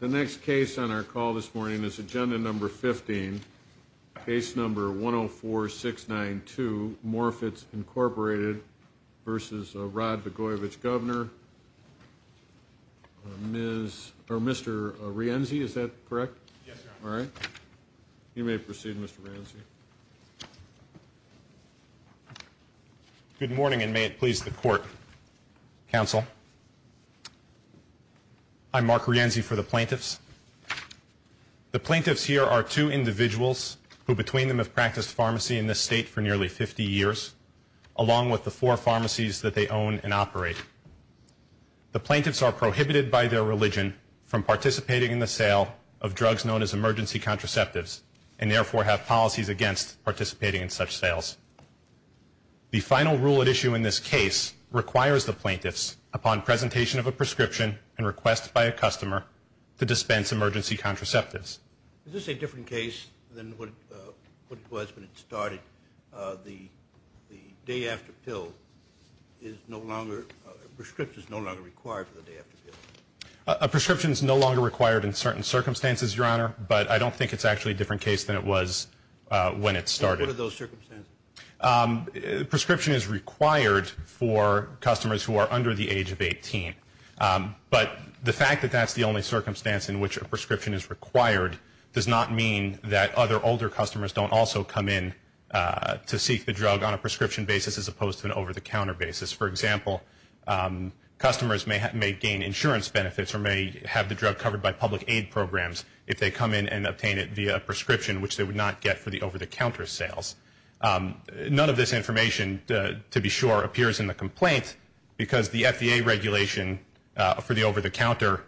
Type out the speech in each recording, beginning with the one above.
The next case on our call this morning is Agenda No. 15, Case No. 104692, Morr-Fitz, Incorporated v. Rod Blagojevich, Governor. Mr. Rienzi, is that correct? Yes, Your Honor. All right. You may proceed, Mr. Rienzi. Good morning, and may it please the Court. Counsel, I'm Mark Rienzi for the plaintiffs. The plaintiffs here are two individuals who, between them, have practiced pharmacy in this State for nearly 50 years, along with the four pharmacies that they own and operate. The plaintiffs are prohibited by their religion from participating in the sale of drugs known as emergency contraceptives and therefore have policies against participating in such sales. The final rule at issue in this case requires the plaintiffs, upon presentation of a prescription and request by a customer, to dispense emergency contraceptives. Is this a different case than what it was when it started? The day-after pill is no longer – a prescription is no longer required for the day-after pill. A prescription is no longer required in certain circumstances, Your Honor, but I don't think it's actually a different case than it was when it started. What are those circumstances? Prescription is required for customers who are under the age of 18, but the fact that that's the only circumstance in which a prescription is required does not mean that other older customers don't also come in to seek the drug on a prescription basis as opposed to an over-the-counter basis. For example, customers may gain insurance benefits or may have the drug covered by public aid programs if they come in and obtain it via a prescription, which they would not get for the over-the-counter sales. None of this information, to be sure, appears in the complaint because the FDA regulation for the over-the-counter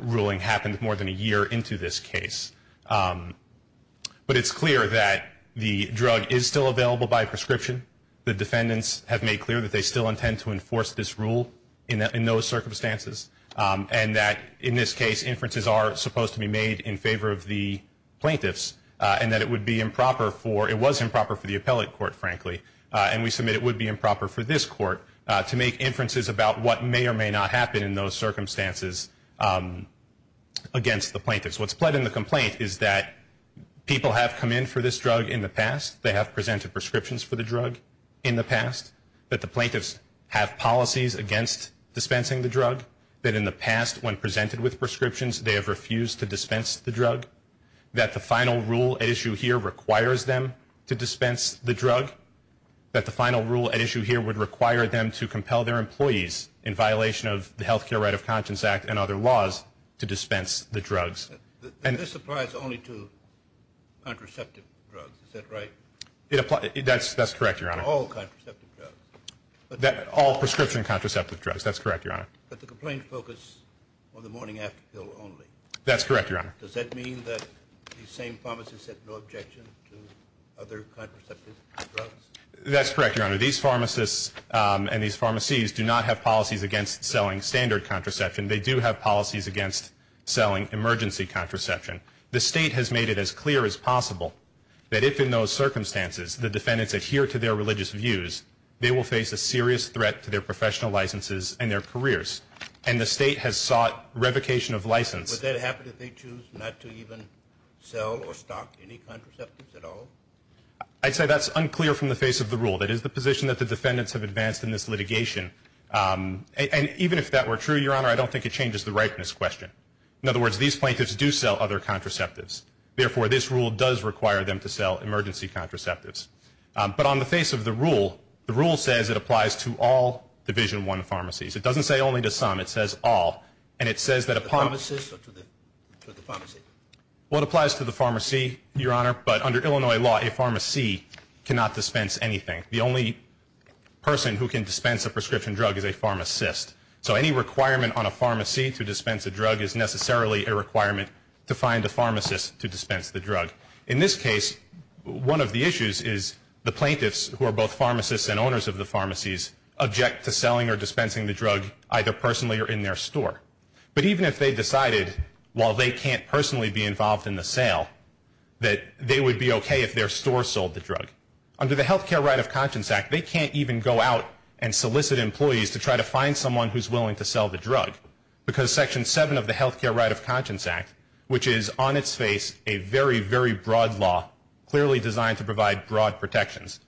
ruling happened more than a year into this case. But it's clear that the drug is still available by prescription. The defendants have made clear that they still intend to enforce this rule in those circumstances and that, in this case, inferences are supposed to be made in favor of the plaintiffs and that it would be improper for the appellate court, frankly, and we submit it would be improper for this court to make inferences about what may or may not happen in those circumstances against the plaintiffs. What's pled in the complaint is that people have come in for this drug in the past. They have presented prescriptions for the drug in the past, that the plaintiffs have policies against dispensing the drug, that in the past when presented with prescriptions they have refused to dispense the drug, that the final rule at issue here requires them to dispense the drug, that the final rule at issue here would require them to compel their employees, in violation of the Health Care Right of Conscience Act and other laws, to dispense the drugs. This applies only to contraceptive drugs, is that right? That's correct, Your Honor. All contraceptive drugs. All prescription contraceptive drugs, that's correct, Your Honor. But the complaint focused on the morning-after pill only. That's correct, Your Honor. Does that mean that these same pharmacists have no objection to other contraceptive drugs? That's correct, Your Honor. These pharmacists and these pharmacies do not have policies against selling standard contraception. They do have policies against selling emergency contraception. The State has made it as clear as possible that if, in those circumstances, the defendants adhere to their religious views, they will face a serious threat to their professional licenses and their careers. And the State has sought revocation of license. Would that happen if they choose not to even sell or stock any contraceptives at all? I'd say that's unclear from the face of the rule. That is the position that the defendants have advanced in this litigation. And even if that were true, Your Honor, I don't think it changes the ripeness question. In other words, these plaintiffs do sell other contraceptives. Therefore, this rule does require them to sell emergency contraceptives. But on the face of the rule, the rule says it applies to all Division I pharmacies. It doesn't say only to some. And it says that a pharmacist... To the pharmacist or to the pharmacy? Well, it applies to the pharmacy, Your Honor. But under Illinois law, a pharmacy cannot dispense anything. The only person who can dispense a prescription drug is a pharmacist. So any requirement on a pharmacy to dispense a drug is necessarily a requirement to find a pharmacist to dispense the drug. In this case, one of the issues is the plaintiffs, who are both pharmacists and owners of the pharmacies, object to selling or dispensing the drug either personally or in their store. But even if they decided, while they can't personally be involved in the sale, that they would be okay if their store sold the drug. Under the Health Care Right of Conscience Act, they can't even go out and solicit employees to try to find someone who's willing to sell the drug. Because Section 7 of the Health Care Right of Conscience Act, which is on its face a very, very broad law, clearly designed to provide broad protections.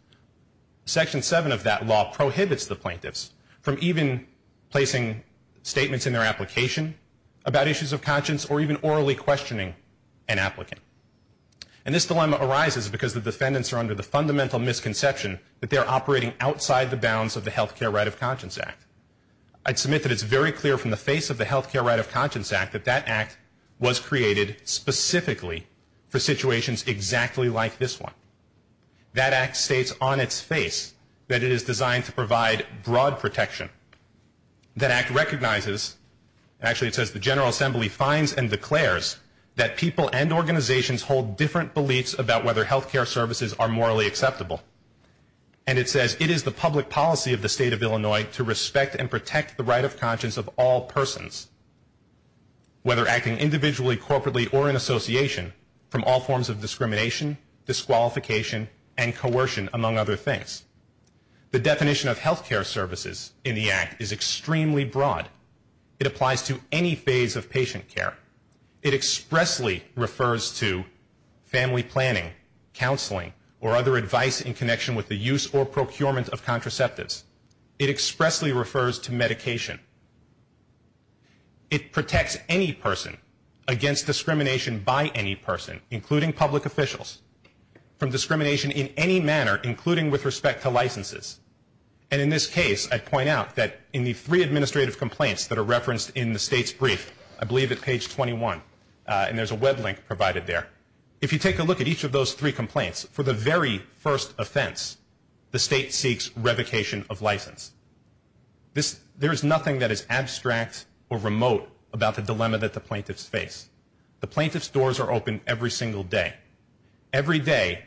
Section 7 of that law prohibits the plaintiffs from even placing statements in their application about issues of conscience or even orally questioning an applicant. And this dilemma arises because the defendants are under the fundamental misconception that they are operating outside the bounds of the Health Care Right of Conscience Act. I'd submit that it's very clear from the face of the Health Care Right of Conscience Act that that act was created specifically for situations exactly like this one. That act states on its face that it is designed to provide broad protection. That act recognizes, actually it says, that the General Assembly finds and declares that people and organizations hold different beliefs about whether health care services are morally acceptable. And it says it is the public policy of the state of Illinois to respect and protect the right of conscience of all persons, whether acting individually, corporately, or in association, from all forms of discrimination, disqualification, and coercion, among other things. The definition of health care services in the act is extremely broad. It applies to any phase of patient care. It expressly refers to family planning, counseling, or other advice in connection with the use or procurement of contraceptives. It expressly refers to medication. It protects any person against discrimination by any person, including public officials, And in this case, I point out that in the three administrative complaints that are referenced in the state's brief, I believe at page 21, and there's a web link provided there, if you take a look at each of those three complaints, for the very first offense, the state seeks revocation of license. There is nothing that is abstract or remote about the dilemma that the plaintiffs face. The plaintiffs' doors are open every single day. Every day,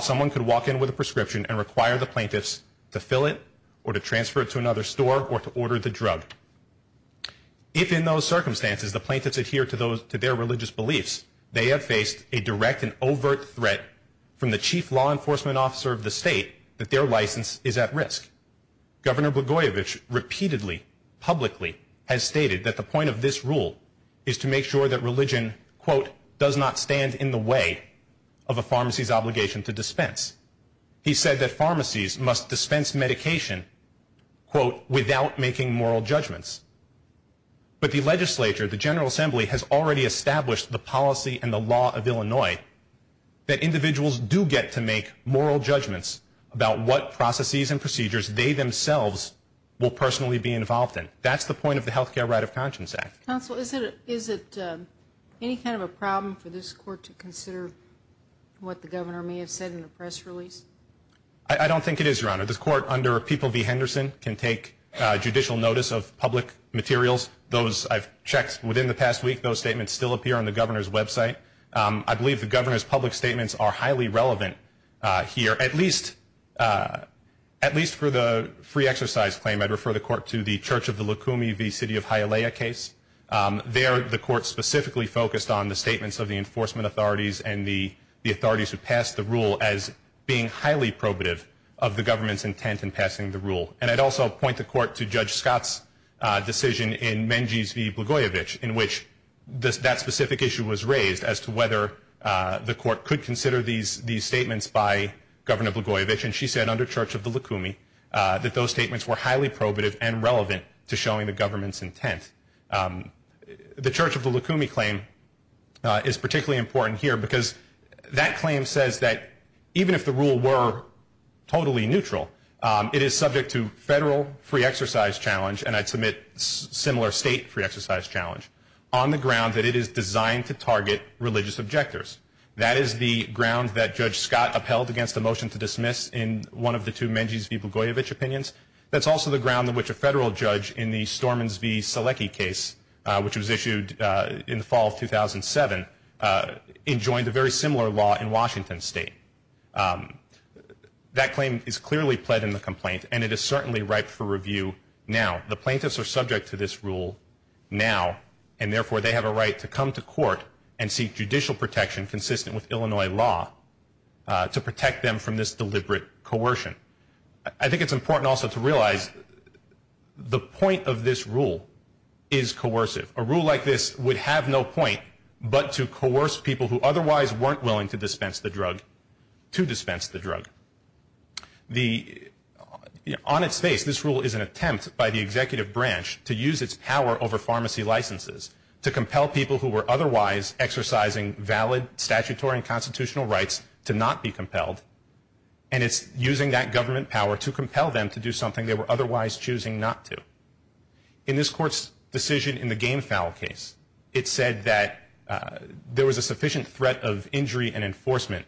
someone could walk in with a prescription and require the plaintiffs to fill it or to transfer it to another store or to order the drug. If in those circumstances the plaintiffs adhere to their religious beliefs, they have faced a direct and overt threat from the chief law enforcement officer of the state that their license is at risk. Governor Blagojevich repeatedly, publicly, has stated that the point of this rule is to make sure that religion, quote, does not stand in the way of a pharmacy's obligation to dispense. He said that pharmacies must dispense medication, quote, without making moral judgments. But the legislature, the General Assembly, has already established the policy and the law of Illinois that individuals do get to make moral judgments about what processes and procedures they themselves will personally be involved in. That's the point of the Health Care Right of Conscience Act. Counsel, is it any kind of a problem for this court to consider what the governor may have said in the press release? I don't think it is, Your Honor. The court under People v. Henderson can take judicial notice of public materials. Those I've checked within the past week. Those statements still appear on the governor's website. I believe the governor's public statements are highly relevant here, at least for the free exercise claim. I'd refer the court to the Church of the Lukumi v. City of Hialeah case. There, the court specifically focused on the statements of the enforcement authorities and the authorities who passed the rule as being highly probative of the government's intent in passing the rule. And I'd also point the court to Judge Scott's decision in Menges v. Blagojevich, in which that specific issue was raised as to whether the court could consider these statements by Governor Blagojevich. And she said under Church of the Lukumi that those statements were highly probative and relevant to showing the government's intent. The Church of the Lukumi claim is particularly important here because that claim says that even if the rule were totally neutral, it is subject to federal free exercise challenge, and I'd submit similar state free exercise challenge, on the ground that it is designed to target religious objectors. That is the ground that Judge Scott upheld against the motion to dismiss in one of the two Menges v. Blagojevich opinions. That's also the ground on which a federal judge in the Stormins v. Selecky case, which was issued in the fall of 2007, enjoined a very similar law in Washington State. That claim is clearly pled in the complaint, and it is certainly ripe for review now. The plaintiffs are subject to this rule now, and therefore they have a right to come to court and seek judicial protection consistent with Illinois law to protect them from this deliberate coercion. I think it's important also to realize the point of this rule is coercive. A rule like this would have no point but to coerce people who otherwise weren't willing to dispense the drug to dispense the drug. On its face, this rule is an attempt by the executive branch to use its power over pharmacy licenses to compel people who were otherwise exercising valid statutory and constitutional rights to not be compelled, and it's using that government power to compel them to do something they were otherwise choosing not to. In this court's decision in the Gamefowl case, it said that there was a sufficient threat of injury and enforcement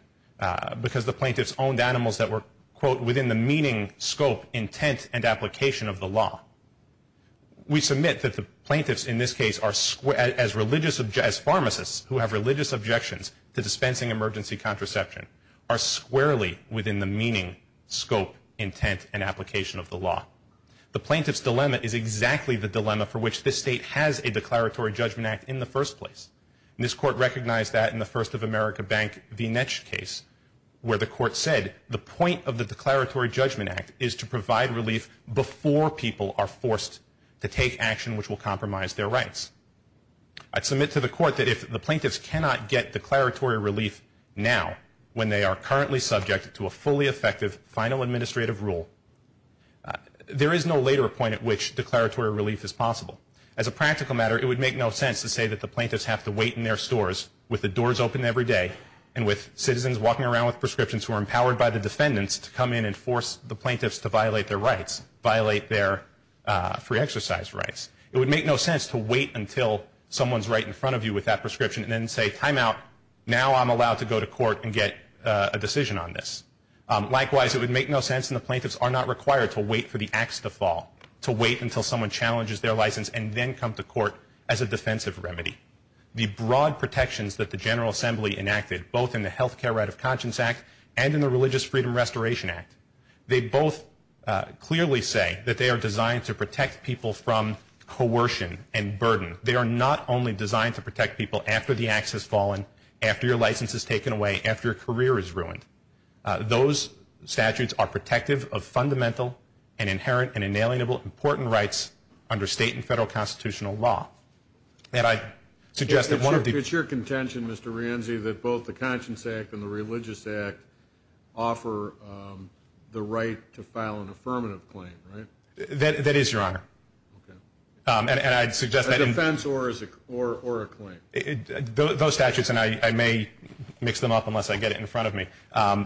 because the plaintiffs owned animals that were, quote, within the meaning, scope, intent, and application of the law. We submit that the plaintiffs in this case, as pharmacists who have religious objections to dispensing emergency contraception, are squarely within the meaning, scope, intent, and application of the law. The plaintiff's dilemma is exactly the dilemma for which this state has a declaratory judgment act in the first place. And this court recognized that in the First of America Bank v. Netsch case, where the court said the point of the declaratory judgment act is to provide relief before people are forced to take action which will compromise their rights. I submit to the court that if the plaintiffs cannot get declaratory relief now, when they are currently subject to a fully effective final administrative rule, there is no later point at which declaratory relief is possible. As a practical matter, it would make no sense to say that the plaintiffs have to wait in their stores with the doors open every day and with citizens walking around with prescriptions who are empowered by the defendants to come in and force the plaintiffs to violate their rights, violate their free exercise rights. It would make no sense to wait until someone's right in front of you with that prescription and then say, time out, now I'm allowed to go to court and get a decision on this. Likewise, it would make no sense and the plaintiffs are not required to wait for the ax to fall, to wait until someone challenges their license and then come to court as a defensive remedy. The broad protections that the General Assembly enacted, both in the Health Care Right of Conscience Act and in the Religious Freedom Restoration Act, they both clearly say that they are designed to protect people from coercion and burden. They are not only designed to protect people after the ax has fallen, after your license is taken away, after your career is ruined. Those statutes are protective of fundamental and inherent and inalienable important rights under state and federal constitutional law. And I suggest that one of the... It's your contention, Mr. Rienzi, that both the Conscience Act and the Religious Act offer the right to file an affirmative claim, right? That is, Your Honor. Okay. And I'd suggest that... A defense or a claim. Those statutes, and I may mix them up unless I get it in front of me,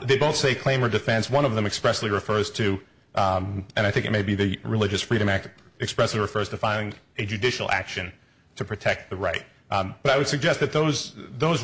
they both say claim or defense. One of them expressly refers to, and I think it may be the Religious Freedom Act, expressly refers to filing a judicial action to protect the right. But I would suggest that those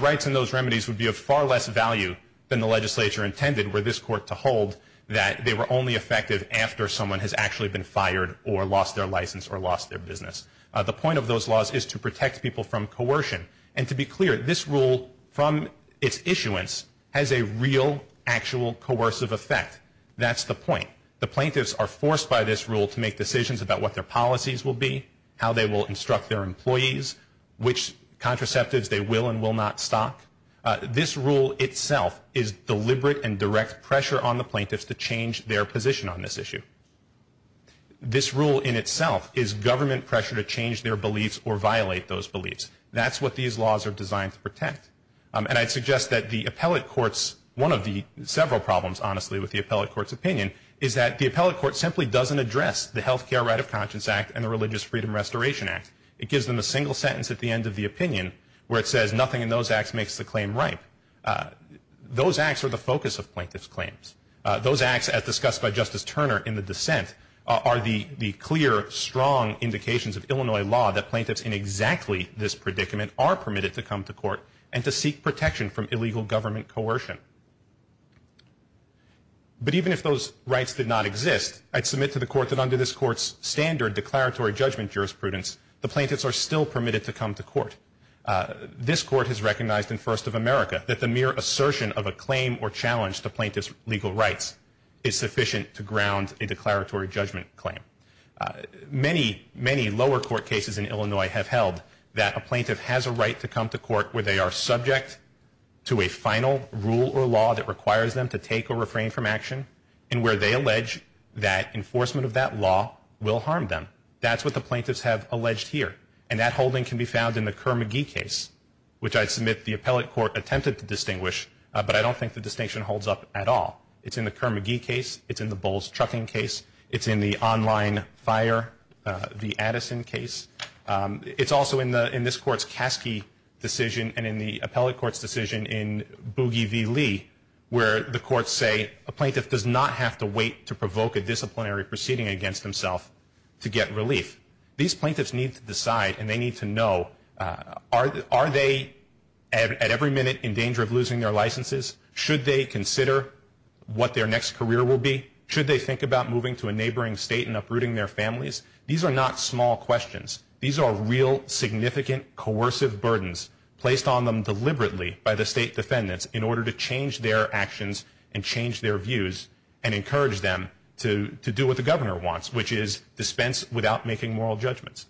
rights and those remedies would be of far less value than the legislature intended for this court to hold, that they were only effective after someone has actually been fired or lost their license or lost their business. The point of those laws is to protect people from coercion. And to be clear, this rule, from its issuance, has a real, actual, coercive effect. That's the point. The plaintiffs are forced by this rule to make decisions about what their policies will be, how they will instruct their employees, which contraceptives they will and will not stock. This rule itself is deliberate and direct pressure on the plaintiffs to change their position on this issue. This rule in itself is government pressure to change their beliefs or violate those beliefs. That's what these laws are designed to protect. And I'd suggest that the appellate courts, one of the several problems, honestly, with the appellate court's opinion, is that the appellate court simply doesn't address the Health Care Right of Conscience Act and the Religious Freedom Restoration Act. It gives them a single sentence at the end of the opinion where it says, nothing in those acts makes the claim ripe. Those acts are the focus of plaintiff's claims. Those acts, as discussed by Justice Turner in the dissent, are the clear, strong indications of Illinois law that plaintiffs in exactly this predicament are permitted to come to court and to seek protection from illegal government coercion. But even if those rights did not exist, I'd submit to the court that under this court's standard declaratory judgment jurisprudence, the plaintiffs are still permitted to come to court. This court has recognized in First of America that the mere assertion of a claim or challenge to plaintiff's legal rights is sufficient to ground a declaratory judgment claim. Many, many lower court cases in Illinois have held that a plaintiff has a right to come to court where they are subject to a final rule or law that requires them to take or refrain from action and where they allege that enforcement of that law will harm them. That's what the plaintiffs have alleged here. And that holding can be found in the Kerr-McGee case, which I'd submit the appellate court attempted to distinguish, but I don't think the distinction holds up at all. It's in the Kerr-McGee case. It's in the Bowles-Truckin case. It's in the online fire v. Addison case. It's also in this court's Caskey decision and in the appellate court's decision in Boogie v. Lee where the courts say a plaintiff does not have to wait to provoke a disciplinary proceeding against himself to get relief. These plaintiffs need to decide and they need to know, are they at every minute in danger of losing their licenses? Should they consider what their next career will be? Should they think about moving to a neighboring state and uprooting their families? These are not small questions. These are real, significant, coercive burdens placed on them deliberately by the state defendants in order to change their actions and change their views and encourage them to do what the governor wants, which is dispense without making moral judgments.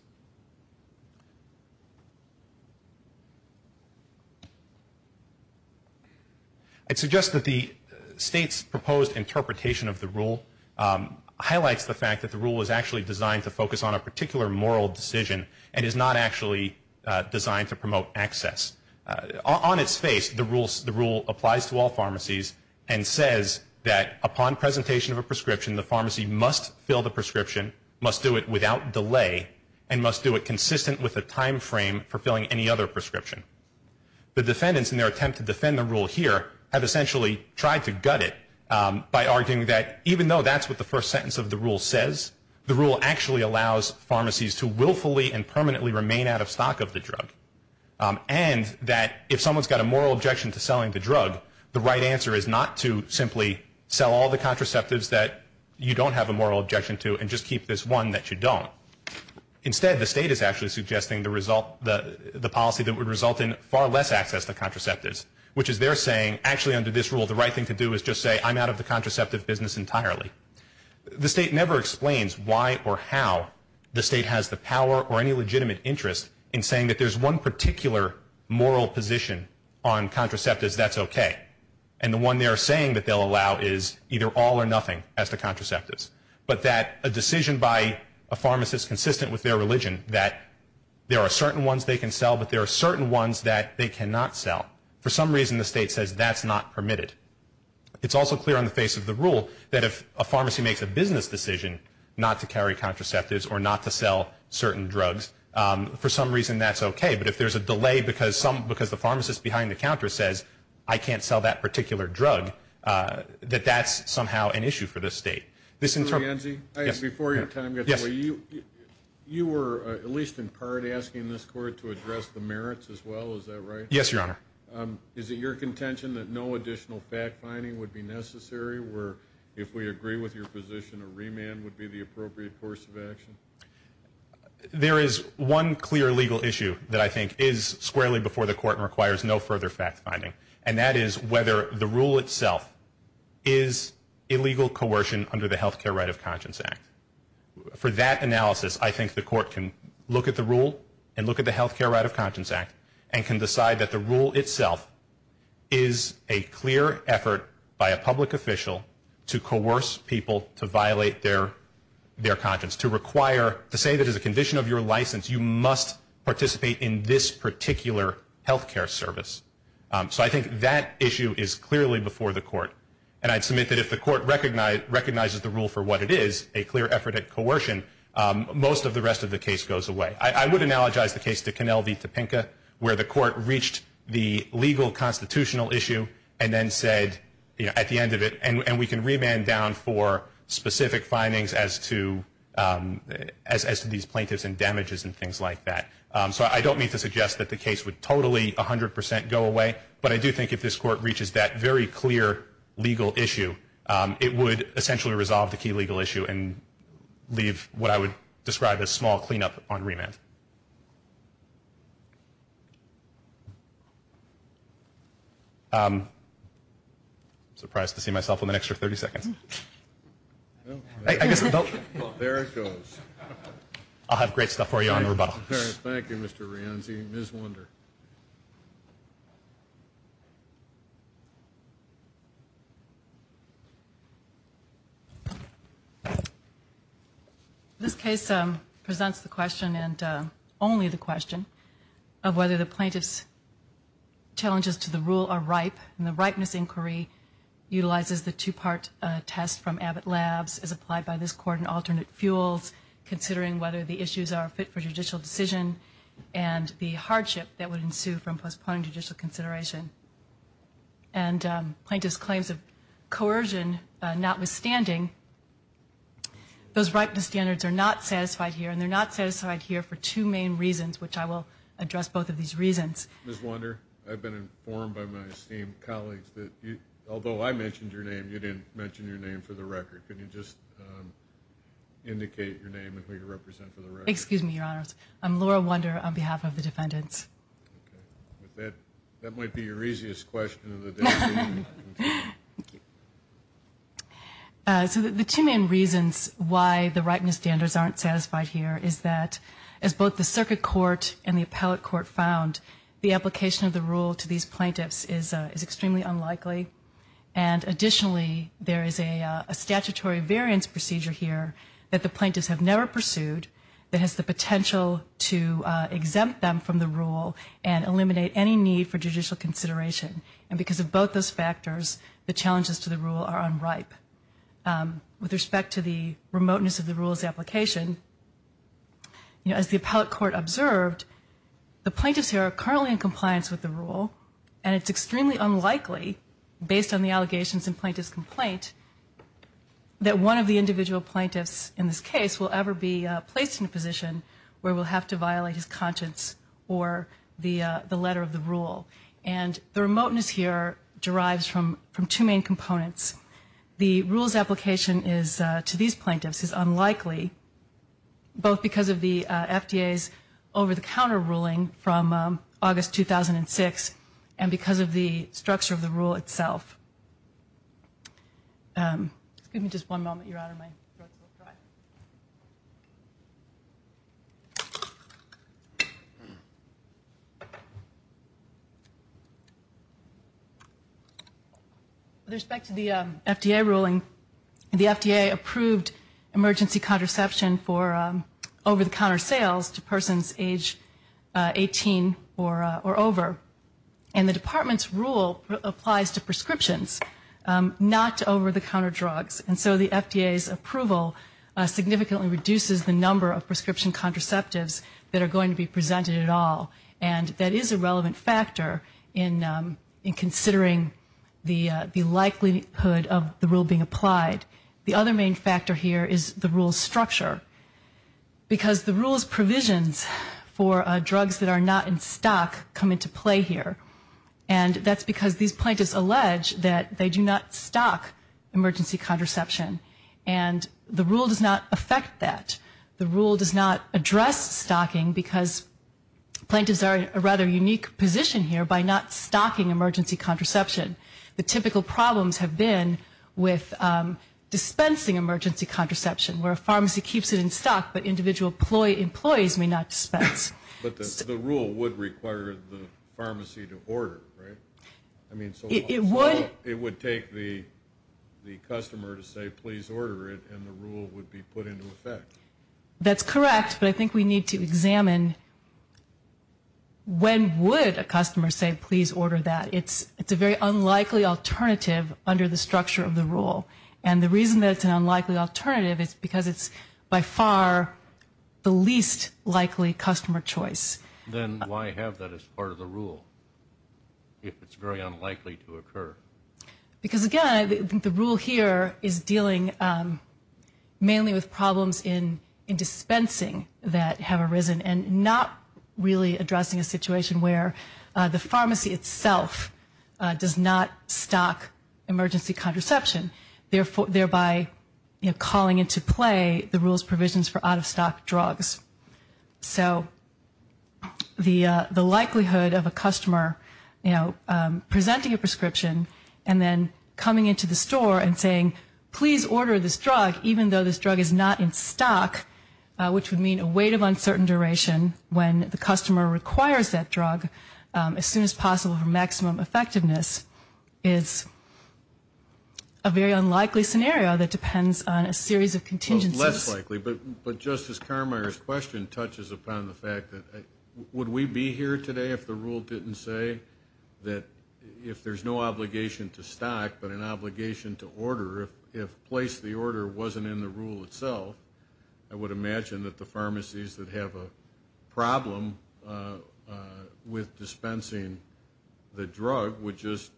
I'd suggest that the state's proposed interpretation of the rule highlights the fact that the rule is actually designed to focus on a particular moral decision and is not actually designed to promote access. On its face, the rule applies to all pharmacies and says that upon presentation of a prescription, the pharmacy must fill the prescription, must do it without delay, and must do it consistent with the time frame for filling any other prescription. The defendants in their attempt to defend the rule here have essentially tried to gut it by arguing that, even though that's what the first sentence of the rule says, the rule actually allows pharmacies to willfully and permanently remain out of stock of the drug and that if someone's got a moral objection to selling the drug, the right answer is not to simply sell all the contraceptives that you don't have a moral objection to and just keep this one that you don't. Instead, the state is actually suggesting the policy that would result in far less access to contraceptives, which is their saying, actually under this rule, the right thing to do is just say, I'm out of the contraceptive business entirely. The state never explains why or how the state has the power or any legitimate interest in saying that there's one particular moral position on contraceptives that's okay and the one they're saying that they'll allow is either all or nothing as to contraceptives, but that a decision by a pharmacist consistent with their religion that there are certain ones they can sell, but there are certain ones that they cannot sell, for some reason the state says that's not permitted. It's also clear on the face of the rule that if a pharmacy makes a business decision not to carry contraceptives or not to sell certain drugs, for some reason that's okay. But if there's a delay because the pharmacist behind the counter says, I can't sell that particular drug, that that's somehow an issue for the state. Mr. Lianzi, before your time gets away, you were at least in part asking this court to address the merits as well, is that right? Yes, Your Honor. Is it your contention that no additional fact-finding would be necessary where if we agree with your position a remand would be the appropriate course of action? There is one clear legal issue that I think is squarely before the court and requires no further fact-finding, and that is whether the rule itself is illegal coercion under the Health Care Right of Conscience Act. For that analysis, I think the court can look at the rule and look at the Health Care Right of Conscience Act and can decide that the rule itself is a clear effort by a public official to coerce people to violate their conscience, to say that as a condition of your license you must participate in this particular health care service. So I think that issue is clearly before the court, and I'd submit that if the court recognizes the rule for what it is, a clear effort at coercion, most of the rest of the case goes away. I would analogize the case to Connell v. Topenka, where the court reached the legal constitutional issue and then said at the end of it, and we can remand down for specific findings as to these plaintiffs and damages and things like that. So I don't mean to suggest that the case would totally 100 percent go away, but I do think if this court reaches that very clear legal issue, it would essentially resolve the key legal issue and leave what I would describe as small cleanup on remand. I'm surprised to see myself with an extra 30 seconds. There it goes. I'll have great stuff for you on the rebuttal. Thank you, Mr. Rianzi. Thank you, Ms. Wunder. This case presents the question, and only the question, of whether the plaintiff's challenges to the rule are ripe, and the ripeness inquiry utilizes the two-part test from Abbott Labs as applied by this court in alternate fuels, considering whether the issues are fit for judicial decision and the hardship that would ensue from postponing judicial consideration. And plaintiff's claims of coercion notwithstanding, those ripeness standards are not satisfied here, and they're not satisfied here for two main reasons, which I will address both of these reasons. Ms. Wunder, I've been informed by my esteemed colleagues that although I mentioned your name, you didn't mention your name for the record. Could you just indicate your name and who you represent for the record? Excuse me, Your Honors. I'm Laura Wunder on behalf of the defendants. Okay. That might be your easiest question of the day. Thank you. So the two main reasons why the ripeness standards aren't satisfied here is that, as both the circuit court and the appellate court found, the application of the rule to these plaintiffs is extremely unlikely, and additionally there is a statutory variance procedure here that the plaintiffs have never pursued that has the potential to exempt them from the rule and eliminate any need for judicial consideration. And because of both those factors, the challenges to the rule are unripe. With respect to the remoteness of the rule's application, as the appellate court observed, the plaintiffs here are currently in compliance with the rule, and it's extremely unlikely, based on the allegations in plaintiff's complaint, that one of the individual plaintiffs in this case will ever be placed in a position where we'll have to violate his conscience or the letter of the rule. And the remoteness here derives from two main components. The rule's application to these plaintiffs is unlikely, both because of the FDA's over-the-counter ruling from August 2006 and because of the structure of the rule itself. Give me just one moment, Your Honor, my throat's a little dry. With respect to the FDA ruling, the FDA approved emergency contraception for over-the-counter sales to persons age 18 or over, and the department's rule applies to prescriptions, not to over-the-counter drugs. And so the FDA's approval significantly reduces the number of prescription contraceptives that are going to be presented at all, and that is a relevant factor in considering the likelihood of the rule being applied. The other main factor here is the rule's structure, because the rule's provisions for drugs that are not in stock come into play here. And that's because these plaintiffs allege that they do not stock emergency contraception, and the rule does not affect that. The rule does not address stocking because plaintiffs are in a rather unique position here by not stocking emergency contraception. The typical problems have been with dispensing emergency contraception, where a pharmacy keeps it in stock, but individual employees may not dispense. But the rule would require the pharmacy to order, right? It would. So it would take the customer to say, please order it, and the rule would be put into effect. That's correct, but I think we need to examine when would a customer say, please order that. It's a very unlikely alternative under the structure of the rule, and the reason that it's an unlikely alternative is because it's by far the least likely customer choice. Then why have that as part of the rule if it's very unlikely to occur? Because, again, I think the rule here is dealing mainly with problems in dispensing that have arisen and not really addressing a situation where the pharmacy itself does not stock emergency contraception, thereby calling into play the rule's provisions for out-of-stock drugs. So the likelihood of a customer presenting a prescription and then coming into the store and saying, please order this drug, even though this drug is not in stock, which would mean a wait of uncertain duration when the customer requires that drug as soon as possible for maximum effectiveness, is a very unlikely scenario that depends on a series of contingencies. Less likely, but Justice Carmier's question touches upon the fact that would we be here today if the rule didn't say that if there's no obligation to stock but an obligation to order, if place the order wasn't in the rule itself, I would imagine that the pharmacies that have a problem with dispensing the drug would just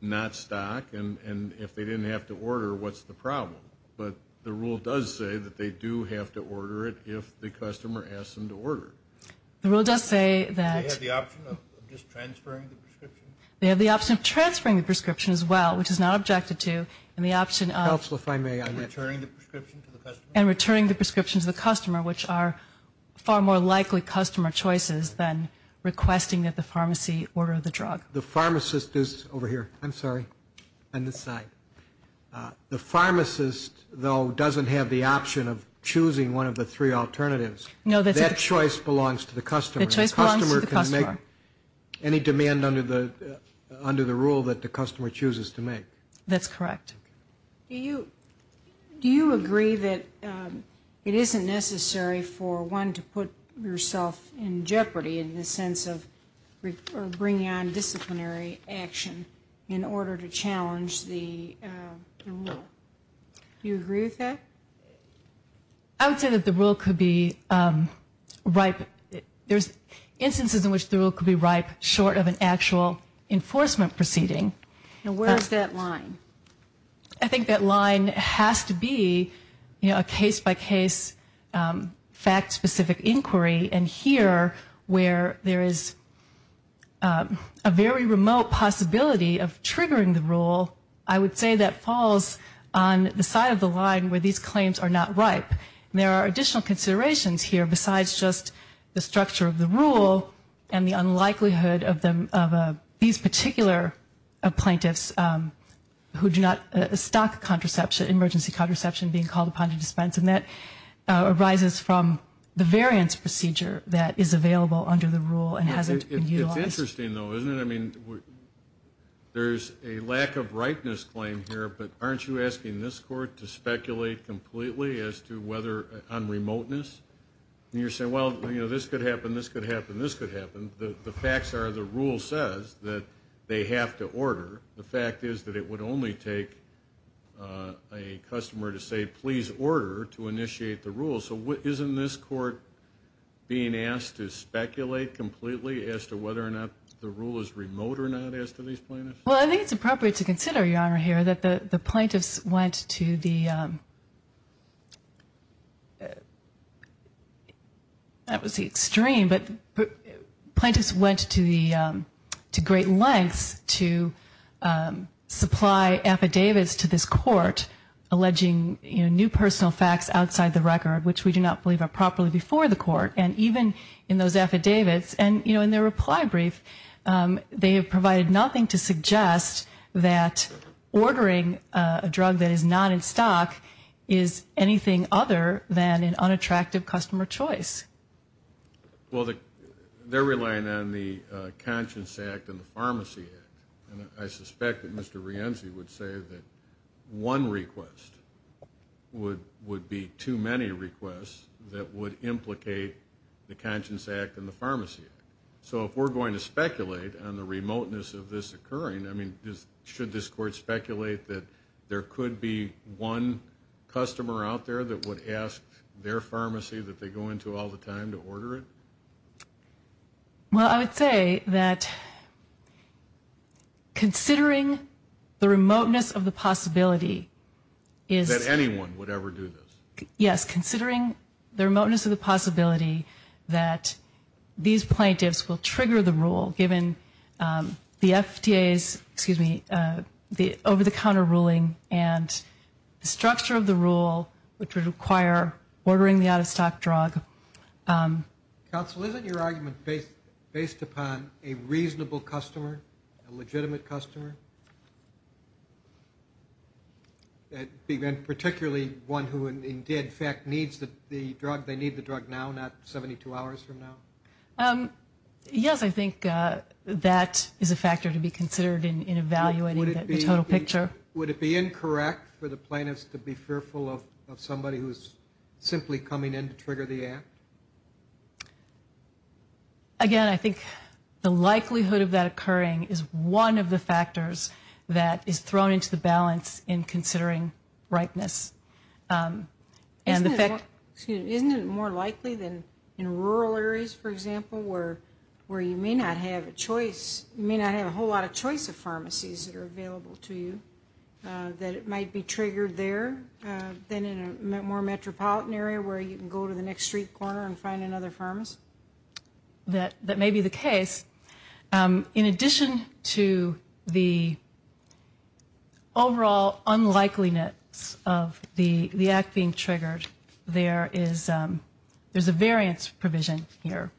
not stock, and if they didn't have to order, what's the problem? But the rule does say that they do have to order it if the customer asks them to order it. The rule does say that they have the option of transferring the prescription as well, which is not objected to, and the option of returning the prescription to the customer, which are far more likely customer choices than requesting that the pharmacy order the drug. The pharmacist is over here, I'm sorry, on this side. The pharmacist, though, doesn't have the option of choosing one of the three alternatives. That choice belongs to the customer. The customer can make any demand under the rule that the customer chooses to make. That's correct. Do you agree that it isn't necessary for one to put yourself in jeopardy in the sense of bringing on disciplinary action in order to challenge the rule? Do you agree with that? I would say that the rule could be ripe. There's instances in which the rule could be ripe short of an actual enforcement proceeding. Now, where is that line? I think that line has to be a case-by-case, fact-specific inquiry, and here, where there is a very remote possibility of triggering the rule, I would say that falls on the side of the line where these claims are not ripe. There are additional considerations here besides just the structure of the rule and the unlikelihood of these particular plaintiffs who do not stock contraception, emergency contraception being called upon to dispense, and that arises from the variance procedure that is available under the rule and hasn't been utilized. It's interesting, though, isn't it? I mean, there's a lack of ripeness claim here, but aren't you asking this court to speculate completely as to whether on remoteness? You're saying, well, you know, this could happen, this could happen, this could happen. The facts are the rule says that they have to order. The fact is that it would only take a customer to say, please order, to initiate the rule. So isn't this court being asked to speculate completely as to whether or not the rule is remote or not as to these plaintiffs? Well, I think it's appropriate to consider, Your Honor, here that the plaintiffs went to the, that was the extreme, but plaintiffs went to great lengths to supply affidavits to this court alleging new personal facts outside the record, which we do not believe are properly before the court. And even in those affidavits and, you know, in their reply brief, they have provided nothing to suggest that ordering a drug that is not in stock is anything other than an unattractive customer choice. Well, they're relying on the Conscience Act and the Pharmacy Act. And I suspect that Mr. Rienzi would say that one request would be too many requests that would implicate the Conscience Act and the Pharmacy Act. So if we're going to speculate on the remoteness of this occurring, I mean, should this court speculate that there could be one customer out there that would ask their pharmacy that they go into all the time to order it? Well, I would say that considering the remoteness of the possibility is. That anyone would ever do this. Yes, considering the remoteness of the possibility that these plaintiffs will trigger the rule given the FDA's, excuse me, the over-the-counter ruling and the structure of the rule which would require ordering the out-of-stock drug. Counsel, isn't your argument based upon a reasonable customer, a legitimate customer, particularly one who in fact needs the drug, they need the drug now, not 72 hours from now? Yes, I think that is a factor to be considered in evaluating the total picture. Would it be incorrect for the plaintiffs to be fearful of somebody who is simply coming in to trigger the act? Again, I think the likelihood of that occurring is one of the factors that is thrown into the balance in considering ripeness. Isn't it more likely than in rural areas, for example, where you may not have a choice, of pharmacies that are available to you, that it might be triggered there than in a more metropolitan area where you can go to the next street corner and find another pharmacist? That may be the case. In addition to the overall unlikeliness of the act being triggered, there is a variance provision here.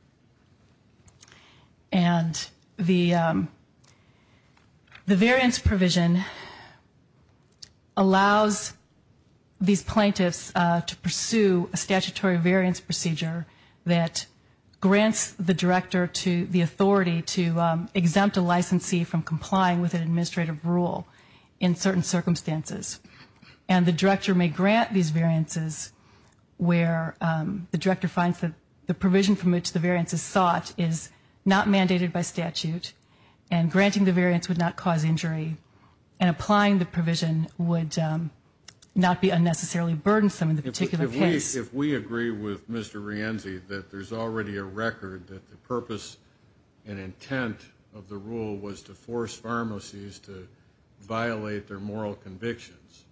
And the variance provision allows these plaintiffs to pursue a statutory variance procedure that grants the director the authority to exempt a licensee from complying with an administrative rule in certain circumstances. And the director may grant these variances where the director finds that the provision from which the variance is sought is not mandated by statute, and granting the variance would not cause injury, and applying the provision would not be unnecessarily burdensome in the particular case. If we agree with Mr. Rienzi that there's already a record that the purpose and intent of the rule was to force pharmacies to violate their moral convictions,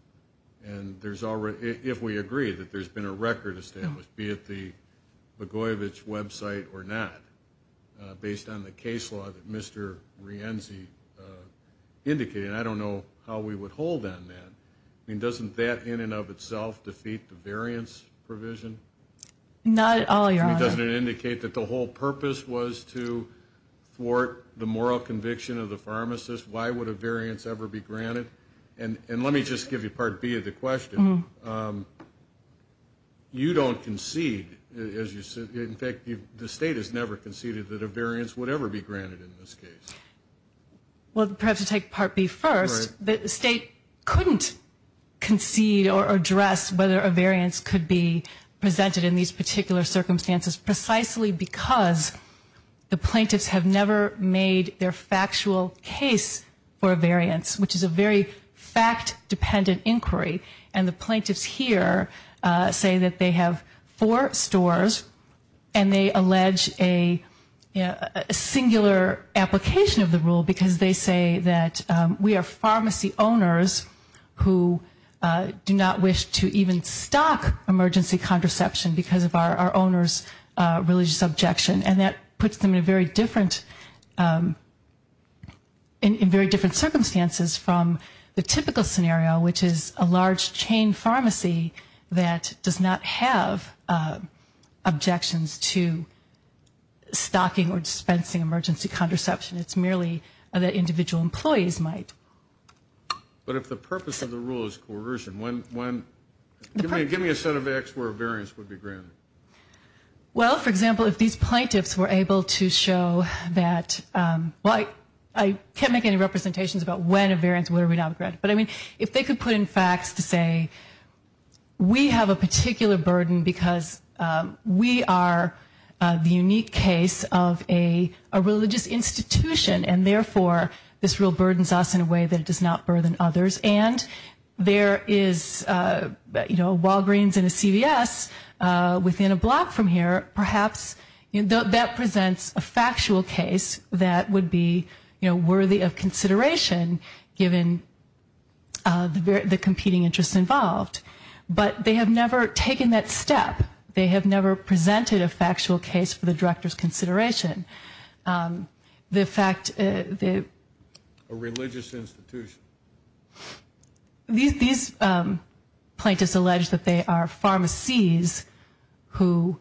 and if we agree that there's been a record established, be it the Bogoyevich website or not, based on the case law that Mr. Rienzi indicated, I don't know how we would hold on that. I mean, doesn't that in and of itself defeat the variance provision? Not at all, Your Honor. I mean, doesn't it indicate that the whole purpose was to thwart the moral conviction of the pharmacist? Why would a variance ever be granted? And let me just give you Part B of the question. You don't concede, as you said. In fact, the State has never conceded that a variance would ever be granted in this case. Well, perhaps to take Part B first, the State couldn't concede or address whether a variance could be presented in these particular circumstances precisely because the plaintiffs have never made their factual case for a variance, which is a very fact-dependent inquiry, and the plaintiffs here say that they have four stores and they allege a singular application of the rule because they say that we are pharmacy owners who do not wish to even stock emergency contraception because of our owners' religious objection, and that puts them in very different circumstances from the typical scenario, which is a large chain pharmacy that does not have objections to stocking or dispensing emergency contraception. It's merely that individual employees might. But if the purpose of the rule is coercion, give me a set of facts where a variance would be granted. Well, for example, if these plaintiffs were able to show that, well, I can't make any representations about when a variance would be granted, but if they could put in facts to say we have a particular burden because we are the unique case of a religious institution and therefore this rule burdens us in a way that it does not burden others, and there is Walgreens and a CVS within a block from here, perhaps that presents a factual case that would be worthy of consideration given the competing interests involved. But they have never taken that step. They have never presented a factual case for the director's consideration. The fact that... A religious institution. These plaintiffs allege that they are pharmacies who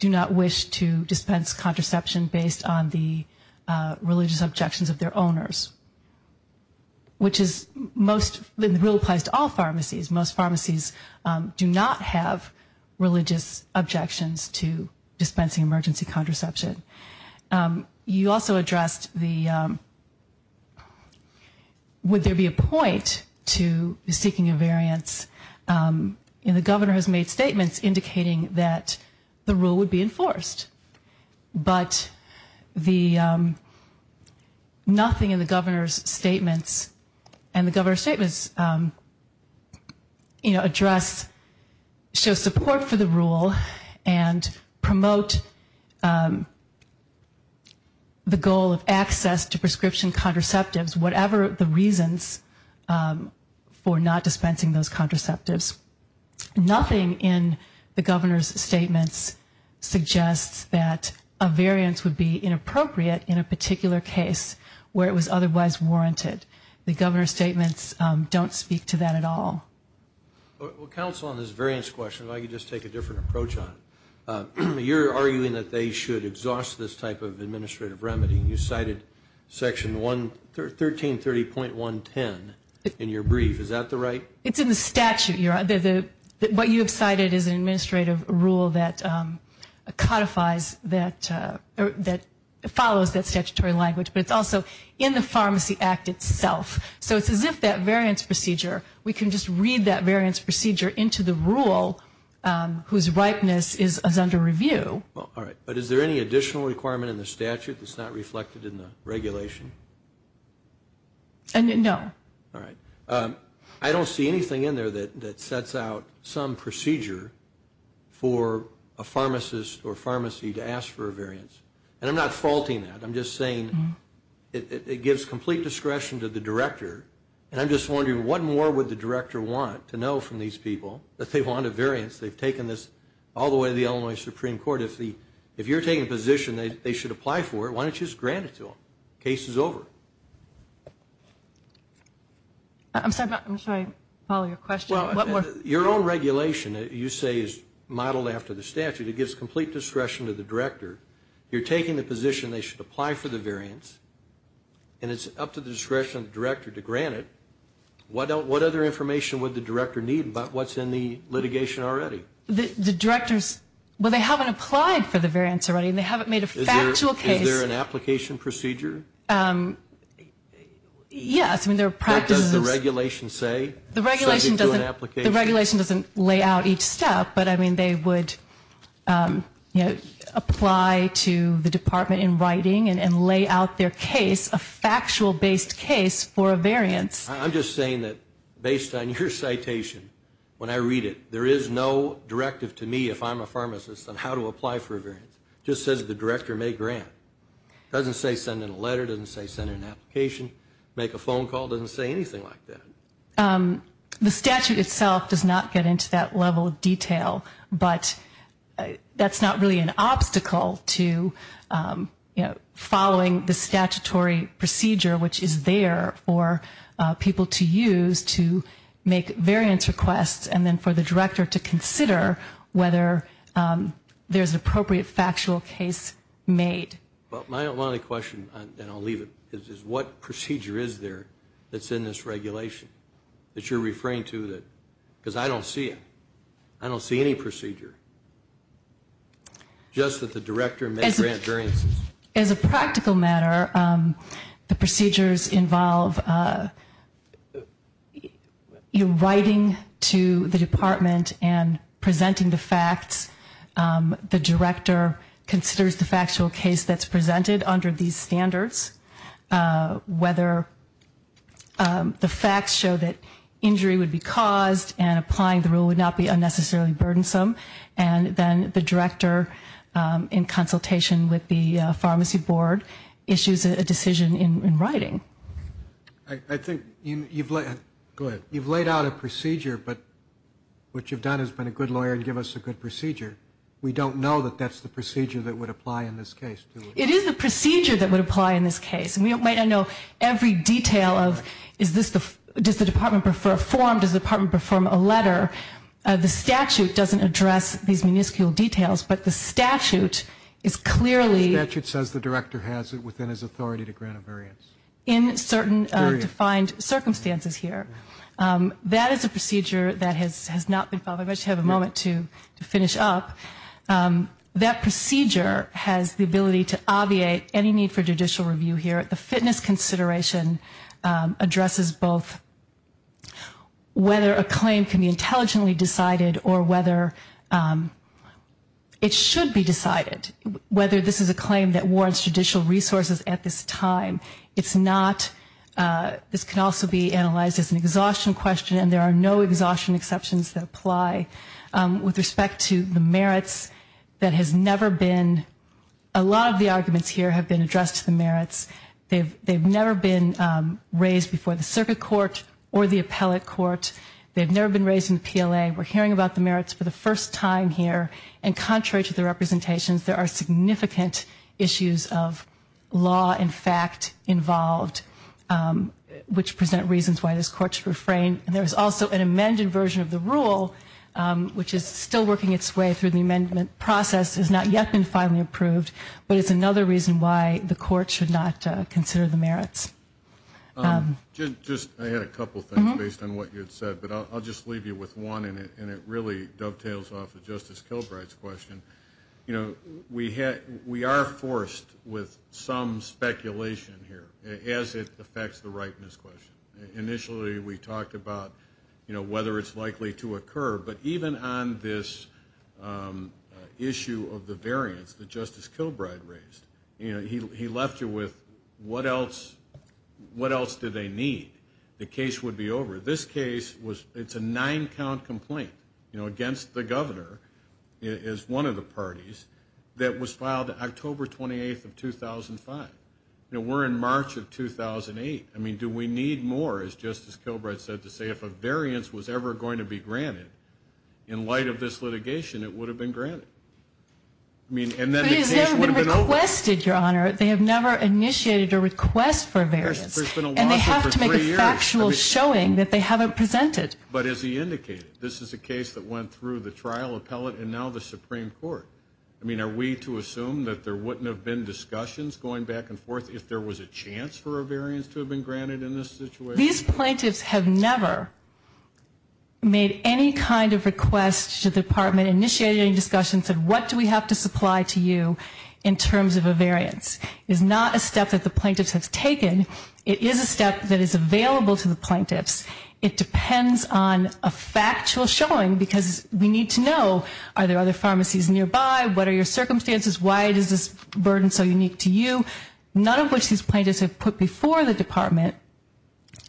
do not wish to dispense contraception based on the religious objections of their owners, which is most of the rule applies to all pharmacies. Most pharmacies do not have religious objections to dispensing emergency contraception. You also addressed the... Would there be a point to seeking a variance? The governor has made statements indicating that the rule would be enforced, but nothing in the governor's statements, and the governor's statements show support for the rule and promote the goal of access to prescription contraceptives, whatever the reasons for not dispensing those contraceptives. Nothing in the governor's statements suggests that a variance would be inappropriate in a particular case where it was otherwise warranted. The governor's statements don't speak to that at all. Well, counsel, on this variance question, if I could just take a different approach on it. You're arguing that they should exhaust this type of administrative remedy. You cited Section 1330.110 in your brief. Is that the right... It's in the statute. What you have cited is an administrative rule that codifies that, or that follows that statutory language, but it's also in the Pharmacy Act itself. So it's as if that variance procedure, we can just read that variance procedure into the rule whose ripeness is under review. All right. But is there any additional requirement in the statute that's not reflected in the regulation? No. All right. I don't see anything in there that sets out some procedure for a pharmacist or pharmacy to ask for a variance. And I'm not faulting that. I'm just saying it gives complete discretion to the director, and I'm just wondering what more would the director want to know from these people that they want a variance. They've taken this all the way to the Illinois Supreme Court. If you're taking a position they should apply for it, why don't you just grant it to them? Case is over. I'm sorry. I'm sorry. Follow your question. Your own regulation, you say, is modeled after the statute. It gives complete discretion to the director. You're taking the position they should apply for the variance, and it's up to the discretion of the director to grant it. What other information would the director need about what's in the litigation already? The directors, well, they haven't applied for the variance already, and they haven't made a factual case. Is there an application procedure? Yes. I mean, there are practices. What does the regulation say subject to an application? The regulation doesn't lay out each step, but, I mean, they would apply to the department in writing and lay out their case, a factual-based case for a variance. I'm just saying that based on your citation, when I read it, there is no directive to me if I'm a pharmacist on how to apply for a variance. It just says that the director may grant. It doesn't say send in a letter. It doesn't say send in an application. Make a phone call. It doesn't say anything like that. The statute itself does not get into that level of detail, but that's not really an obstacle to following the statutory procedure, which is there for people to use to make variance requests and then for the director to consider whether there's an appropriate factual case made. Well, my only question, and I'll leave it, is what procedure is there that's in this regulation that you're referring to? Because I don't see it. I don't see any procedure. Just that the director may grant variances. As a practical matter, the procedures involve writing to the department and presenting the facts. The director considers the factual case that's presented under these standards, whether the facts show that injury would be caused and applying the rule would not be unnecessarily burdensome. And then the director, in consultation with the pharmacy board, issues a decision in writing. I think you've laid out a procedure, but what you've done is been a good lawyer and give us a good procedure. We don't know that that's the procedure that would apply in this case. It is the procedure that would apply in this case. And we might not know every detail of does the department prefer a form, does the department prefer a letter. The statute doesn't address these minuscule details, but the statute is clearly… The statute says the director has it within his authority to grant a variance. In certain defined circumstances here. That is a procedure that has not been followed. I'd like to have a moment to finish up. That procedure has the ability to obviate any need for judicial review here. The fitness consideration addresses both whether a claim can be intelligently decided or whether it should be decided, whether this is a claim that warrants judicial resources at this time. It's not… This can also be analyzed as an exhaustion question, and there are no exhaustion exceptions that apply. With respect to the merits, that has never been… A lot of the arguments here have been addressed to the merits. They've never been raised before the circuit court or the appellate court. They've never been raised in the PLA. We're hearing about the merits for the first time here, and contrary to the representations, there are significant issues of law and fact involved, which present reasons why this court should refrain. And there's also an amended version of the rule, which is still working its way through the amendment process. It has not yet been finally approved, but it's another reason why the court should not consider the merits. Just… I had a couple things based on what you had said, but I'll just leave you with one, and it really dovetails off of Justice Kilbright's question. You know, we are forced with some speculation here, as it affects the rightness question. Initially, we talked about, you know, whether it's likely to occur, but even on this issue of the variance that Justice Kilbright raised, you know, he left you with, what else do they need? The case would be over. It's a nine-count complaint, you know, against the governor, as one of the parties, that was filed October 28th of 2005. You know, we're in March of 2008. I mean, do we need more, as Justice Kilbright said, to say if a variance was ever going to be granted, in light of this litigation, it would have been granted. I mean, and then the case would have been over. But it's never been requested, Your Honor. They have never initiated a request for a variance. There's been a lawsuit for three years. But as he indicated, this is a case that went through the trial appellate and now the Supreme Court. I mean, are we to assume that there wouldn't have been discussions going back and forth if there was a chance for a variance to have been granted in this situation? These plaintiffs have never made any kind of request to the Department, initiated any discussions of what do we have to supply to you in terms of a variance. It's not a step that the plaintiffs have taken. It is a step that is available to the plaintiffs. It depends on a factual showing because we need to know, are there other pharmacies nearby? What are your circumstances? Why is this burden so unique to you? None of which these plaintiffs have put before the Department.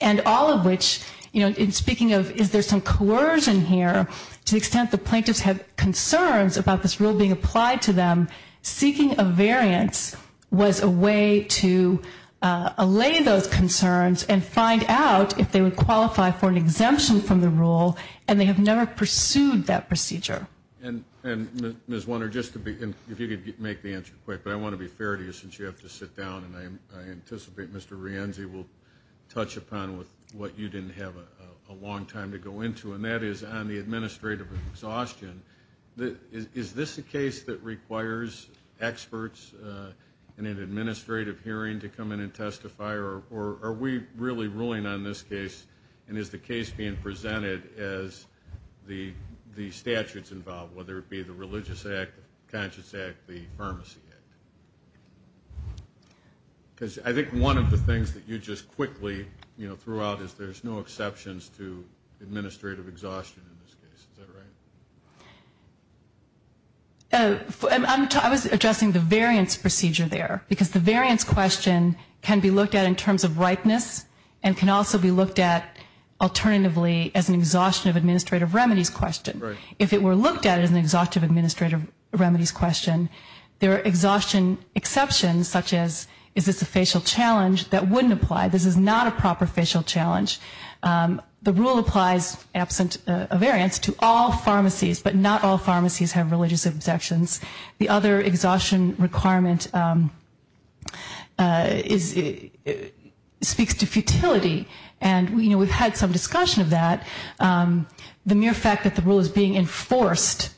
And all of which, you know, in speaking of is there some coercion here, to the extent the plaintiffs have concerns about this rule being applied to them, seeking a variance was a way to allay those concerns and find out if they would qualify for an exemption from the rule, and they have never pursued that procedure. And Ms. Warner, just to be, if you could make the answer quick, but I want to be fair to you since you have to sit down, and I anticipate Mr. Rienzi will touch upon what you didn't have a long time to go into, and that is on the administrative exhaustion. Is this a case that requires experts in an administrative hearing to come in and testify, or are we really ruling on this case, and is the case being presented as the statutes involved, whether it be the Religious Act, the Conscience Act, the Pharmacy Act? Because I think one of the things that you just quickly, you know, pointed out is there's no exceptions to administrative exhaustion in this case. Is that right? I was addressing the variance procedure there, because the variance question can be looked at in terms of rightness and can also be looked at alternatively as an exhaustion of administrative remedies question. Right. If it were looked at as an exhaustion of administrative remedies question, there are exhaustion exceptions, such as is this a facial challenge, that wouldn't apply. This is not a proper facial challenge. The rule applies, absent a variance, to all pharmacies, but not all pharmacies have religious exceptions. The other exhaustion requirement speaks to futility, and we've had some discussion of that. The mere fact that the rule is being enforced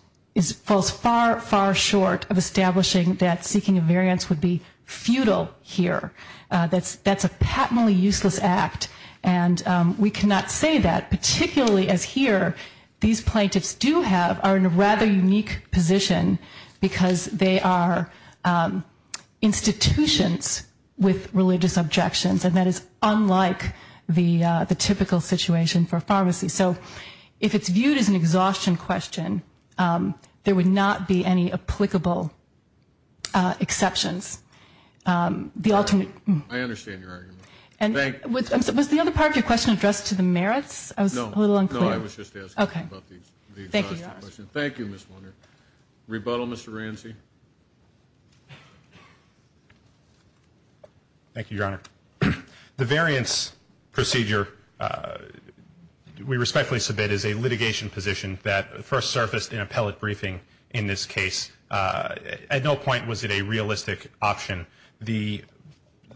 falls far, far short of establishing that seeking a variance would be futile here. That's a patently useless act, and we cannot say that, particularly as here, these plaintiffs do have, are in a rather unique position, because they are institutions with religious objections, and that is unlike the typical situation for pharmacies. So if it's viewed as an exhaustion question, there would not be any applicable exceptions. I understand your argument. Was the other part of your question addressed to the merits? I was a little unclear. No, I was just asking about the exhaustion question. Thank you, Ms. Wunder. Rebuttal, Mr. Ramsey. Thank you, Your Honor. The variance procedure we respectfully submit is a litigation position that first surfaced in appellate briefing in this case. At no point was it a realistic option. The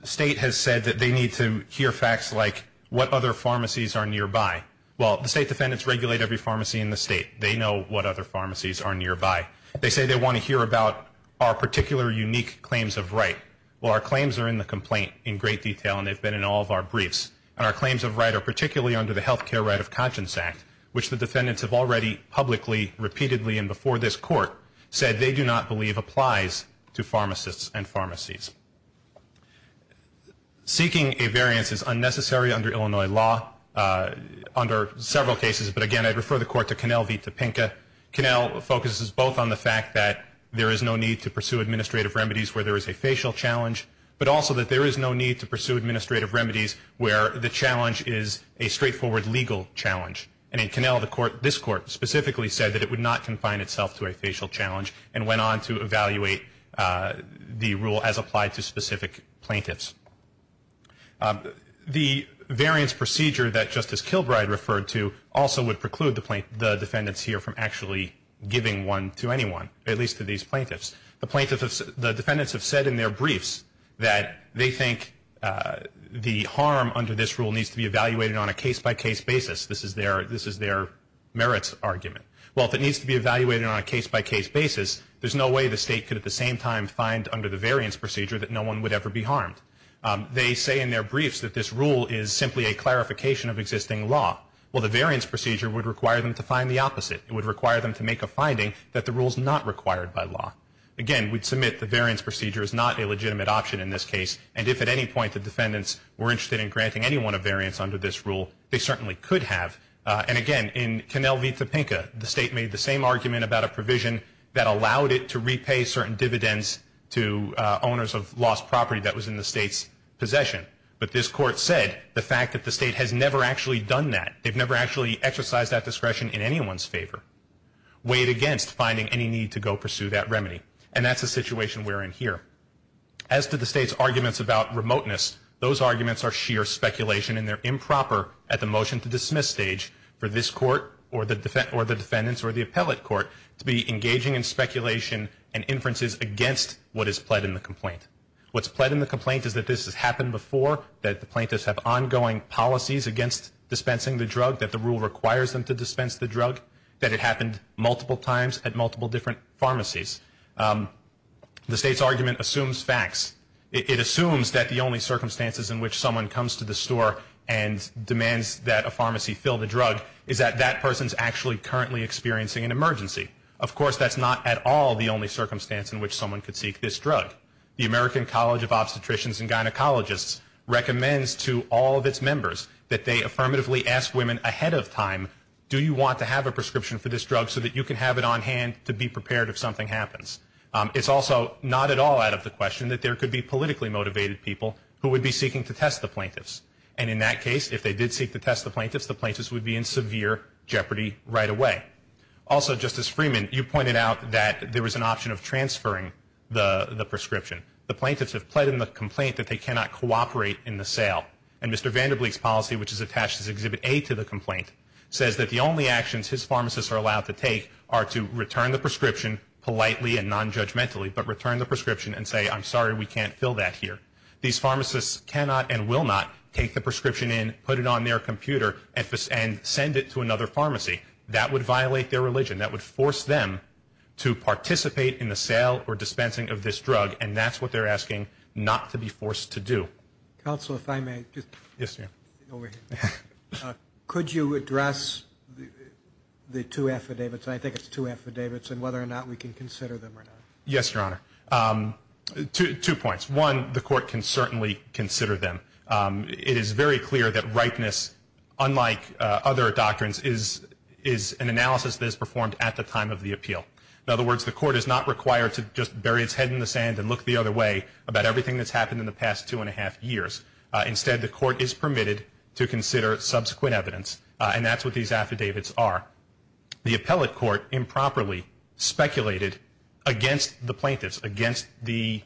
state has said that they need to hear facts like what other pharmacies are nearby. Well, the state defendants regulate every pharmacy in the state. They know what other pharmacies are nearby. They say they want to hear about our particular unique claims of right. Well, our claims are in the complaint in great detail, and they've been in all of our briefs, and our claims of right are particularly under the Health Care Right of Conscience Act, which the defendants have already publicly, repeatedly, and before this Court said they do not believe applies to pharmacists and pharmacies. Seeking a variance is unnecessary under Illinois law under several cases, but, again, I'd refer the Court to Connell v. Topenka. Connell focuses both on the fact that there is no need to pursue administrative remedies where there is a facial challenge, but also that there is no need to pursue administrative remedies where the challenge is a straightforward legal challenge. And in Connell, this Court specifically said that it would not confine itself to a facial challenge and went on to evaluate the rule as applied to specific plaintiffs. The variance procedure that Justice Kilbride referred to also would preclude the defendants here from actually giving one to anyone, at least to these plaintiffs. The defendants have said in their briefs that they think the harm under this rule needs to be evaluated on a case-by-case basis. This is their merits argument. Well, if it needs to be evaluated on a case-by-case basis, there's no way the State could at the same time find under the variance procedure that no one would ever be harmed. They say in their briefs that this rule is simply a clarification of existing law. Well, the variance procedure would require them to find the opposite. It would require them to make a finding that the rule is not required by law. Again, we'd submit the variance procedure is not a legitimate option in this case, and if at any point the defendants were interested in granting anyone a variance under this rule, they certainly could have. And again, in Connell v. Topenka, the State made the same argument about a provision that allowed it to repay certain dividends to owners of lost property that was in the State's possession. But this Court said the fact that the State has never actually done that. They've never actually exercised that discretion in anyone's favor, weighed against finding any need to go pursue that remedy, and that's the situation we're in here. As to the State's arguments about remoteness, those arguments are sheer speculation, and they're improper at the motion-to-dismiss stage for this Court or the defendants or the appellate court to be engaging in speculation and inferences against what is pled in the complaint. What's pled in the complaint is that this has happened before, that the plaintiffs have ongoing policies against dispensing the drug, that the rule requires them to dispense the drug, that it happened multiple times at multiple different pharmacies. The State's argument assumes facts. It assumes that the only circumstances in which someone comes to the store and demands that a pharmacy fill the drug is that that person's actually currently experiencing an emergency. Of course, that's not at all the only circumstance in which someone could seek this drug. The American College of Obstetricians and Gynecologists recommends to all of its members that they affirmatively ask women ahead of time, do you want to have a prescription for this drug so that you can have it on hand to be prepared if something happens? It's also not at all out of the question that there could be politically motivated people who would be seeking to test the plaintiffs, and in that case, if they did seek to test the plaintiffs, the plaintiffs would be in severe jeopardy right away. Also, Justice Freeman, you pointed out that there was an option of transferring the prescription. The plaintiffs have pled in the complaint that they cannot cooperate in the sale, and Mr. Vanderbleek's policy, which is attached as Exhibit A to the complaint, says that the only actions his pharmacists are allowed to take are to return the prescription politely and nonjudgmentally, but return the prescription and say, I'm sorry, we can't fill that here. These pharmacists cannot and will not take the prescription in, put it on their computer, and send it to another pharmacy. That would violate their religion. That would force them to participate in the sale or dispensing of this drug, and that's what they're asking not to be forced to do. Counsel, if I may. Yes, sir. Could you address the two affidavits, and I think it's two affidavits, and whether or not we can consider them or not? Yes, Your Honor. Two points. One, the court can certainly consider them. It is very clear that ripeness, unlike other doctrines, is an analysis that is performed at the time of the appeal. In other words, the court is not required to just bury its head in the sand and look the other way about everything that's happened in the past two and a half years. Instead, the court is permitted to consider subsequent evidence, and that's what these affidavits are. The appellate court improperly speculated against the plaintiffs, and made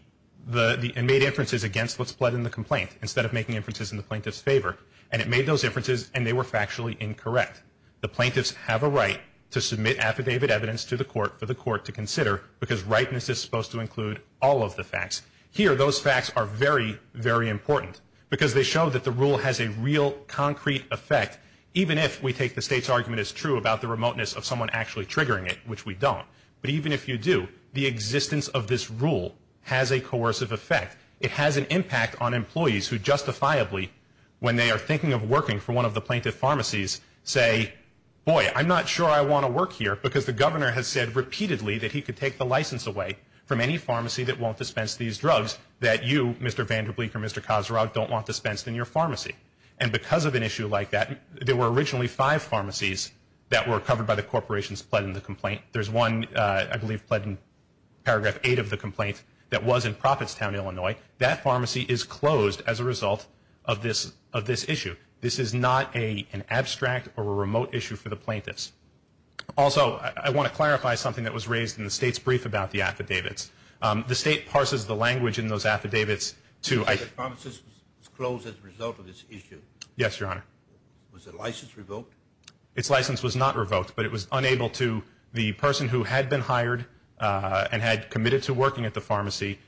inferences against what's pled in the complaint, instead of making inferences in the plaintiff's favor. And it made those inferences, and they were factually incorrect. The plaintiffs have a right to submit affidavit evidence to the court for the court to consider, because ripeness is supposed to include all of the facts. Here, those facts are very, very important, because they show that the rule has a real, concrete effect, even if we take the State's argument as true about the remoteness of someone actually triggering it, which we don't. But even if you do, the existence of this rule has a coercive effect. It has an impact on employees who justifiably, when they are thinking of working for one of the plaintiff's pharmacies, say, boy, I'm not sure I want to work here, because the governor has said repeatedly that he could take the license away from any pharmacy that won't dispense these drugs, that you, Mr. Vanderbleek or Mr. Kosorov, don't want dispensed in your pharmacy. And because of an issue like that, there were originally five pharmacies that were covered by the corporation's pled in the complaint. There's one, I believe, pled in Paragraph 8 of the complaint that was in Profittstown, Illinois. That pharmacy is closed as a result of this issue. This is not an abstract or a remote issue for the plaintiffs. Also, I want to clarify something that was raised in the State's brief about the affidavits. The State parses the language in those affidavits to- The pharmacy was closed as a result of this issue. Yes, Your Honor. Was the license revoked? Its license was not revoked, but it was unable to- The person who had been hired and had committed to working at the pharmacy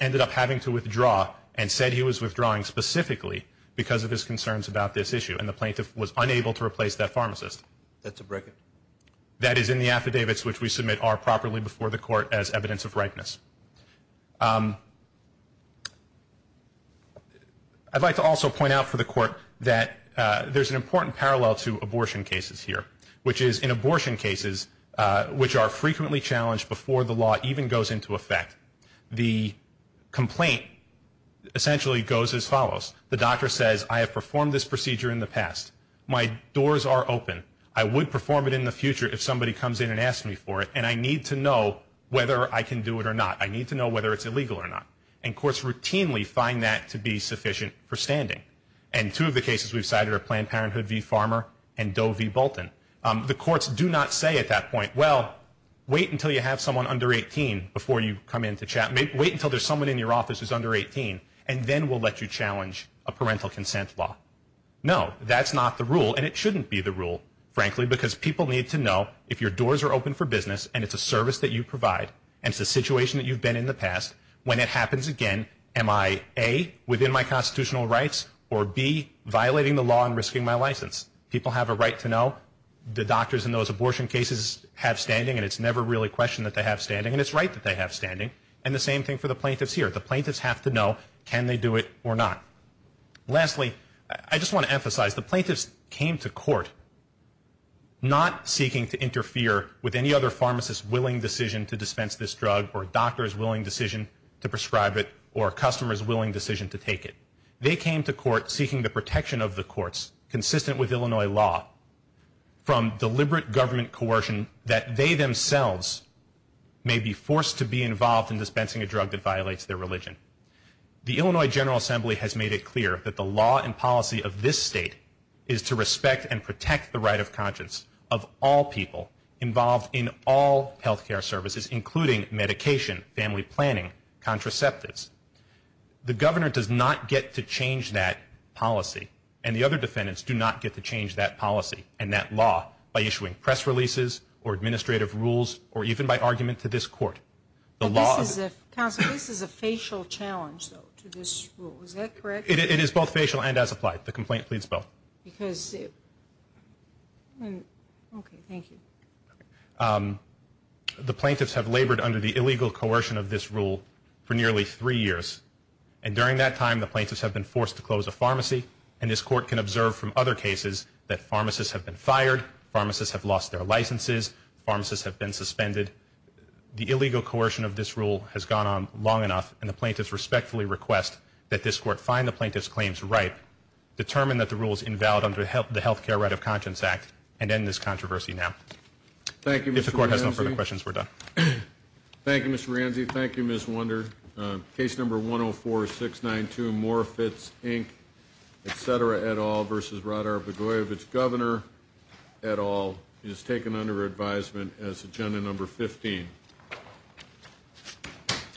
ended up having to withdraw and said he was withdrawing specifically because of his concerns about this issue. And the plaintiff was unable to replace that pharmacist. That's a break-in. That is in the affidavits which we submit are properly before the court as evidence of ripeness. I'd like to also point out for the court that there's an important parallel to abortion cases here, which is in abortion cases, which are frequently challenged before the law even goes into effect, the complaint essentially goes as follows. The doctor says, I have performed this procedure in the past. My doors are open. I would perform it in the future if somebody comes in and asks me for it, and I need to know whether I can do it or not. I need to know whether it's illegal or not. And courts routinely find that to be sufficient for standing. And two of the cases we've cited are Planned Parenthood v. Farmer and Doe v. Bolton. The courts do not say at that point, well, wait until you have someone under 18 before you come in to chat. Wait until there's someone in your office who's under 18, and then we'll let you challenge a parental consent law. No, that's not the rule, and it shouldn't be the rule, frankly, because people need to know if your doors are open for business and it's a service that you provide and it's a situation that you've been in the past, when it happens again, am I A, within my constitutional rights, or B, violating the law and risking my license? People have a right to know. The doctors in those abortion cases have standing, and it's never really questioned that they have standing, and it's right that they have standing. And the same thing for the plaintiffs here. The plaintiffs have to know, can they do it or not? Lastly, I just want to emphasize, the plaintiffs came to court not seeking to interfere with any other pharmacist's willing decision to dispense this drug or a doctor's willing decision to prescribe it or a customer's willing decision to take it. They came to court seeking the protection of the courts, consistent with Illinois law, from deliberate government coercion that they themselves may be forced to be involved in dispensing a drug that violates their religion. The Illinois General Assembly has made it clear that the law and policy of this state is to respect and protect the right of conscience of all people involved in all health care services, including medication, family planning, contraceptives. The governor does not get to change that policy, and the other defendants do not get to change that policy and that law by issuing press releases or administrative rules or even by argument to this court. But this is a facial challenge, though, to this rule. Is that correct? It is both facial and as applied. The complaint, please spell. Okay, thank you. The plaintiffs have labored under the illegal coercion of this rule for nearly three years, and during that time the plaintiffs have been forced to close a pharmacy, and this court can observe from other cases that pharmacists have been fired, pharmacists have lost their licenses, pharmacists have been suspended. The illegal coercion of this rule has gone on long enough, and the plaintiffs respectfully request that this court find the plaintiffs' claims ripe, determine that the rule is invalid under the Health Care Right of Conscience Act, and end this controversy now. If the court has no further questions, we're done. Thank you, Mr. Ranze. Thank you, Ms. Wunder. Case number 104-692, Morfitts, Inc., etc., et al. versus Radar-Badoyevich, Governor, et al., is taken under advisement as agenda number 15.